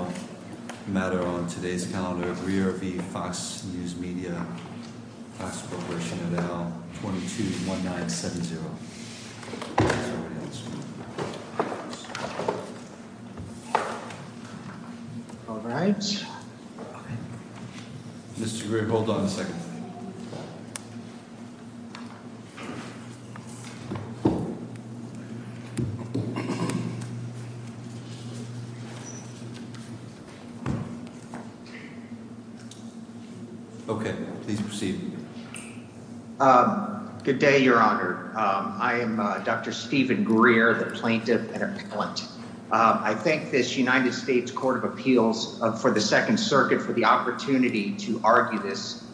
et al., 221970, that's all I have to say. All right. Mr. Greer, hold on a second. Okay, please proceed. Good day, Your Honor. I am Dr. Stephen Greer, the plaintiff and appellant. I thank this United States Court of Appeals for the Second Circuit for the opportunity to argue this.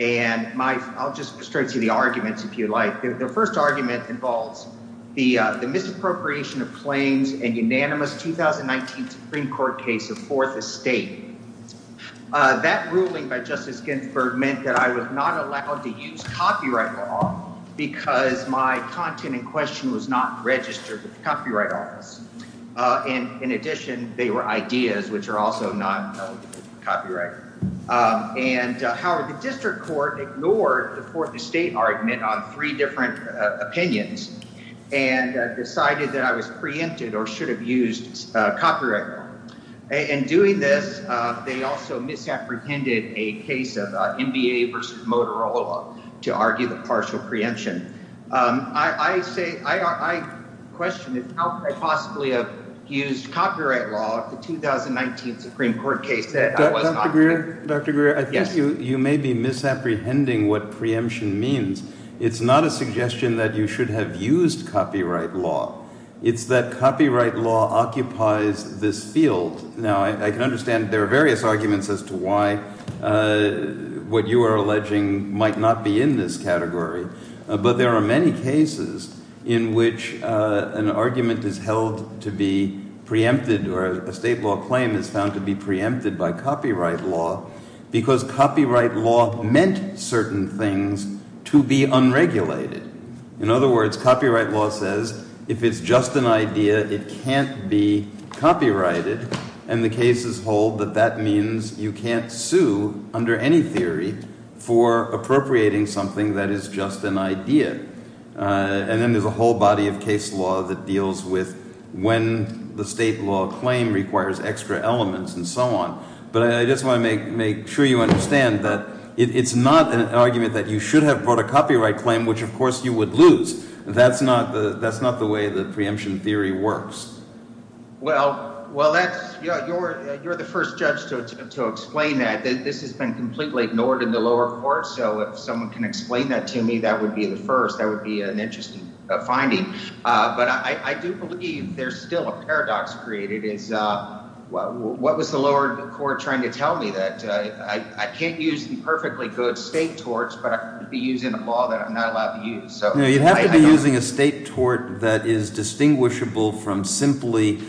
And I'll just go straight to the arguments, if you'd like. The first argument involves the misappropriation of claims in the unanimous 2019 Supreme Court case of Fourth Estate. That ruling by Justice Ginsburg meant that I was not allowed to use copyright law because my content in question was not registered with the Copyright Office. And in addition, they were ideas which are also not eligible for copyright. And, however, the district court ignored the Fourth Estate argument on three different opinions and decided that I was preempted or should have used copyright law. In doing this, they also misapprehended a case of NBA v. Motorola to argue the partial preemption. I say – I question how could I possibly have used copyright law in the 2019 Supreme Court case that I was not there. Dr. Greer, I think you may be misapprehending what preemption means. It's not a suggestion that you should have used copyright law. It's that copyright law occupies this field. Now, I can understand there are various arguments as to why what you are alleging might not be in this category. But there are many cases in which an argument is held to be preempted or a state law claim is found to be preempted by copyright law because copyright law meant certain things to be unregulated. In other words, copyright law says if it's just an idea, it can't be copyrighted. And the cases hold that that means you can't sue under any theory for appropriating something that is just an idea. And then there's a whole body of case law that deals with when the state law claim requires extra elements and so on. But I just want to make sure you understand that it's not an argument that you should have brought a copyright claim, which of course you would lose. That's not the way the preemption theory works. Well, that's – you're the first judge to explain that. This has been completely ignored in the lower court, so if someone can explain that to me, that would be the first. That would be an interesting finding. But I do believe there's still a paradox created is what was the lower court trying to tell me, that I can't use the perfectly good state torts but I could be using a law that I'm not allowed to use? You'd have to be using a state tort that is distinguishable from simply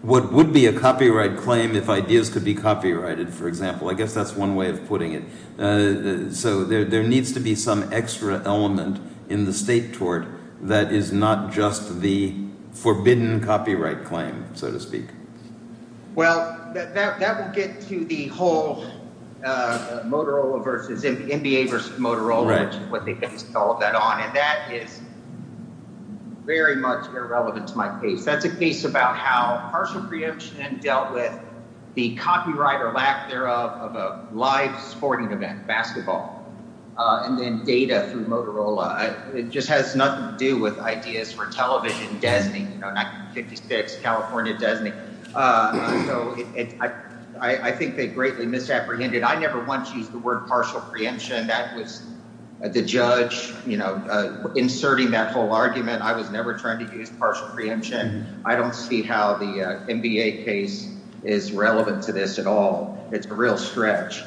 what would be a copyright claim if ideas could be copyrighted, for example. I guess that's one way of putting it. So there needs to be some extra element in the state tort that is not just the forbidden copyright claim, so to speak. Well, that would get to the whole Motorola versus – NBA versus Motorola, which is what they based all of that on. And that is very much irrelevant to my case. That's a case about how partial preemption dealt with the copyright or lack thereof of a live sporting event, basketball, and then data through Motorola. It just has nothing to do with ideas for television, Desney, 1956, California, Desney. So I think they greatly misapprehended. I never once used the word partial preemption. That was the judge inserting that whole argument. I was never trying to use partial preemption. I don't see how the NBA case is relevant to this at all. It's a real stretch.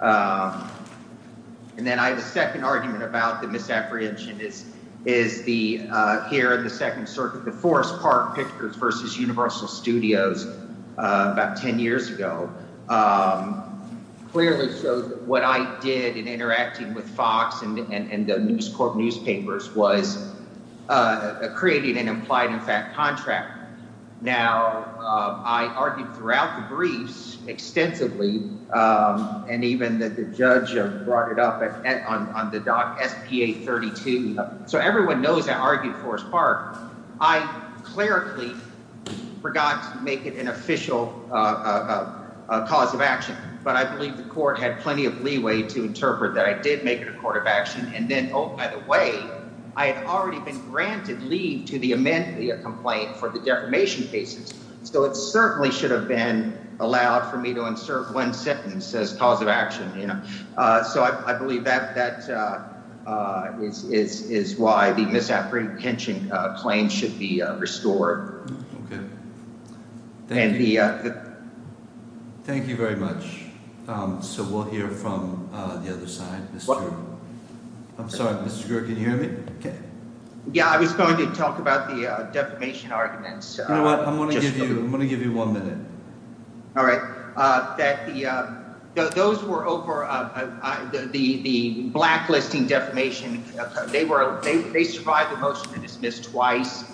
And then I have a second argument about the misapprehension is the – here in the Second Circuit, the Forest Park Pictures versus Universal Studios about 10 years ago. Clearly, so what I did in interacting with Fox and the News Corp newspapers was creating an implied-in-fact contract. Now, I argued throughout the briefs extensively, and even the judge brought it up on the doc SPA-32. So everyone knows I argued Forest Park. I clerically forgot to make it an official cause of action, but I believe the court had plenty of leeway to interpret that I did make it a court of action. And then, oh, by the way, I had already been granted leave to the amendment of the complaint for the defamation cases. So it certainly should have been allowed for me to insert one sentence as cause of action. So I believe that that is why the misapprehension claim should be restored. Okay. Thank you. Thank you very much. So we'll hear from the other side. I'm sorry. Mr. Grier, can you hear me? Yeah, I was going to talk about the defamation arguments. You know what? I'm going to give you one minute. All right. But I want to say that the the blacklisting defamation, they were they survive the motion to dismiss twice.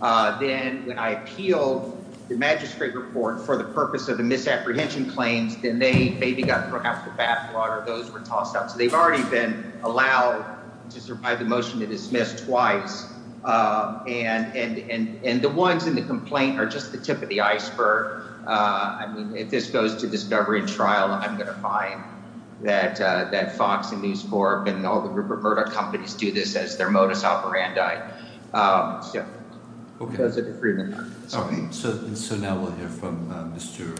Then I appealed the magistrate report for the purpose of the misapprehension claims. Then they maybe got thrown out the bathwater. Those were tossed out. So they've already been allowed to survive the motion to dismiss twice. And the ones in the complaint are just the tip of the iceberg. I mean, if this goes to discovery and trial, I'm going to find that that Fox and News Corp and all the group of murder companies do this as their modus operandi. So now we'll hear from Mr.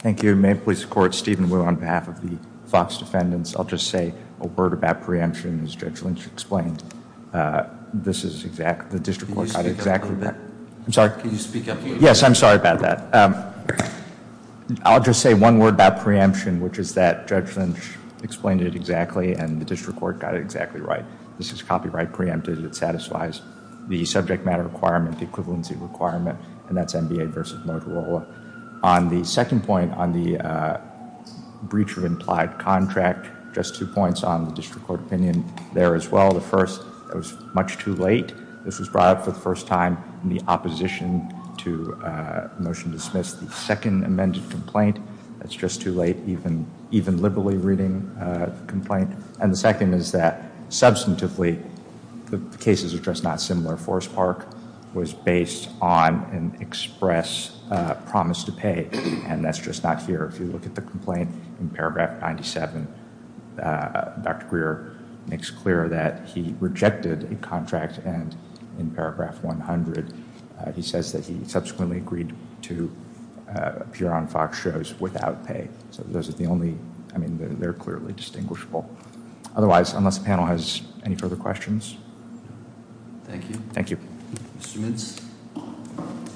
Thank you. May police court Stephen. We're on behalf of the Fox defendants. I'll just say a word about preemption. Judge Lynch explained this is exact. The district was exactly that. I'm sorry. Can you speak up? Yes. I'm sorry about that. I'll just say one word about preemption, which is that judge Lynch explained it exactly. And the district court got it exactly right. This is copyright preempted. It satisfies the subject matter requirement equivalency requirement. And that's NBA versus Motorola on the second point on the breach of implied contract. Just two points on the district court opinion there as well. The first was much too late. This was brought up for the first time in the opposition to a motion to dismiss the second amended complaint. That's just too late. Even even liberally reading complaint. And the second is that substantively, the cases are just not similar. Forest Park was based on an express promise to pay. And that's just not here. If you look at the complaint in paragraph 97, Dr. Greer makes clear that he rejected a contract. And in paragraph 100, he says that he subsequently agreed to appear on Fox shows without pay. Those are the only I mean, they're clearly distinguishable. Otherwise, unless the panel has any further questions. Thank you. Thank you. Mr. Mintz.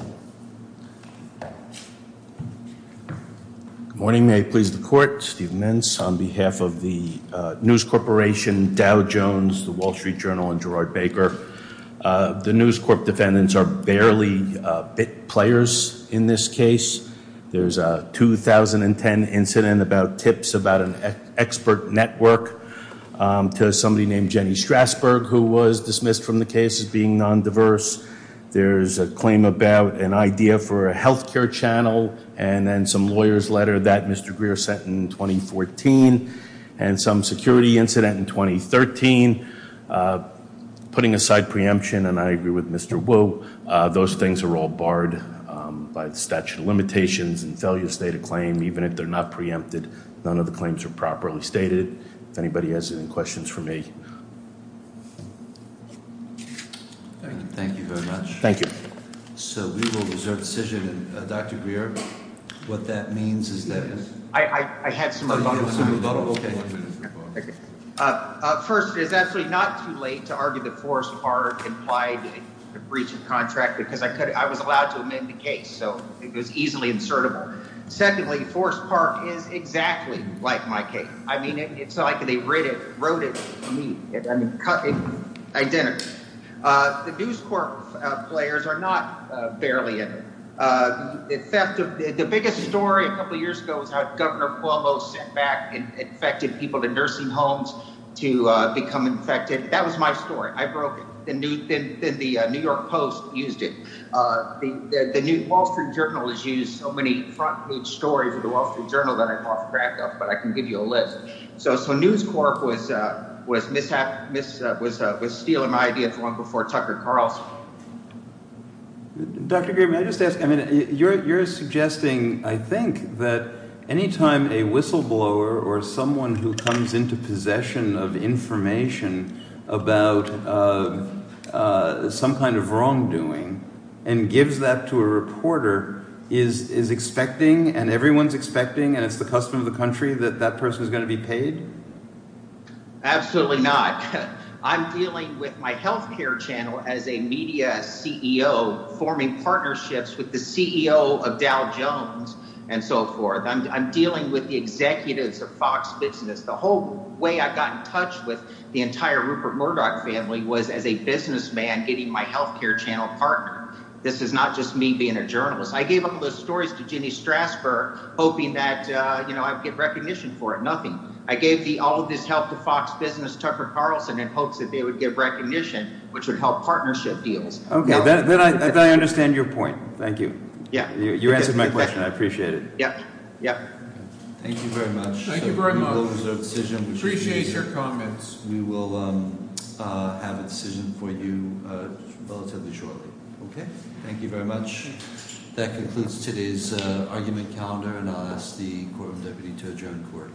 Good morning. May it please the court. Steve Mintz on behalf of the News Corporation, Dow Jones, the Wall Street Journal and Gerard Baker. The News Corp defendants are barely bit players in this case. There's a 2010 incident about tips about an expert network to somebody named Jenny Strasburg, who was dismissed from the case as being non-diverse. There's a claim about an idea for a health care channel. And then some lawyer's letter that Mr. Greer sent in 2014. And some security incident in 2013. Putting aside preemption, and I agree with Mr. Wu. Those things are all barred by the statute of limitations and failure to state a claim, even if they're not preempted. None of the claims are properly stated. If anybody has any questions for me. Thank you very much. Thank you. So we will reserve the decision. Dr. Greer, what that means is that- I had some- Okay. First, it's actually not too late to argue that Forest Park implied a breach of contract because I was allowed to amend the case. So it was easily insertable. Secondly, Forest Park is exactly like my case. I mean, it's like they wrote it to me. Identical. The News Corp players are not barely in it. The biggest story a couple years ago was how Governor Cuomo sent back infected people to nursing homes to become infected. That was my story. I broke it. Then the New York Post used it. The New Wall Street Journal has used so many front page stories of the Wall Street Journal that I coughed crack up. But I can give you a list. So News Corp was stealing my idea long before Tucker Carlson. Dr. Greer, may I just ask? I mean you're suggesting, I think, that any time a whistleblower or someone who comes into possession of information about some kind of wrongdoing and gives that to a reporter is expecting and everyone is expecting and it's the custom of the country that that person is going to be paid? Absolutely not. I'm dealing with my health care channel as a media CEO forming partnerships with the CEO of Dow Jones and so forth. I'm dealing with the executives of Fox Business. The whole way I got in touch with the entire Rupert Murdoch family was as a businessman getting my health care channel partnered. This is not just me being a journalist. I gave up all those stories to Jenny Strasburg hoping that I would get recognition for it. Nothing. I gave all of this help to Fox Business, Tucker Carlson in hopes that they would get recognition which would help partnership deals. Okay, then I understand your point. Thank you. You answered my question. I appreciate it. Yep. Thank you very much. Thank you very much. We will reserve decision. Appreciate your comments. We will have a decision for you relatively shortly. Okay? Thank you very much. That concludes today's argument calendar and I'll ask the courtroom deputy to adjourn court.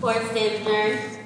Court is adjourned.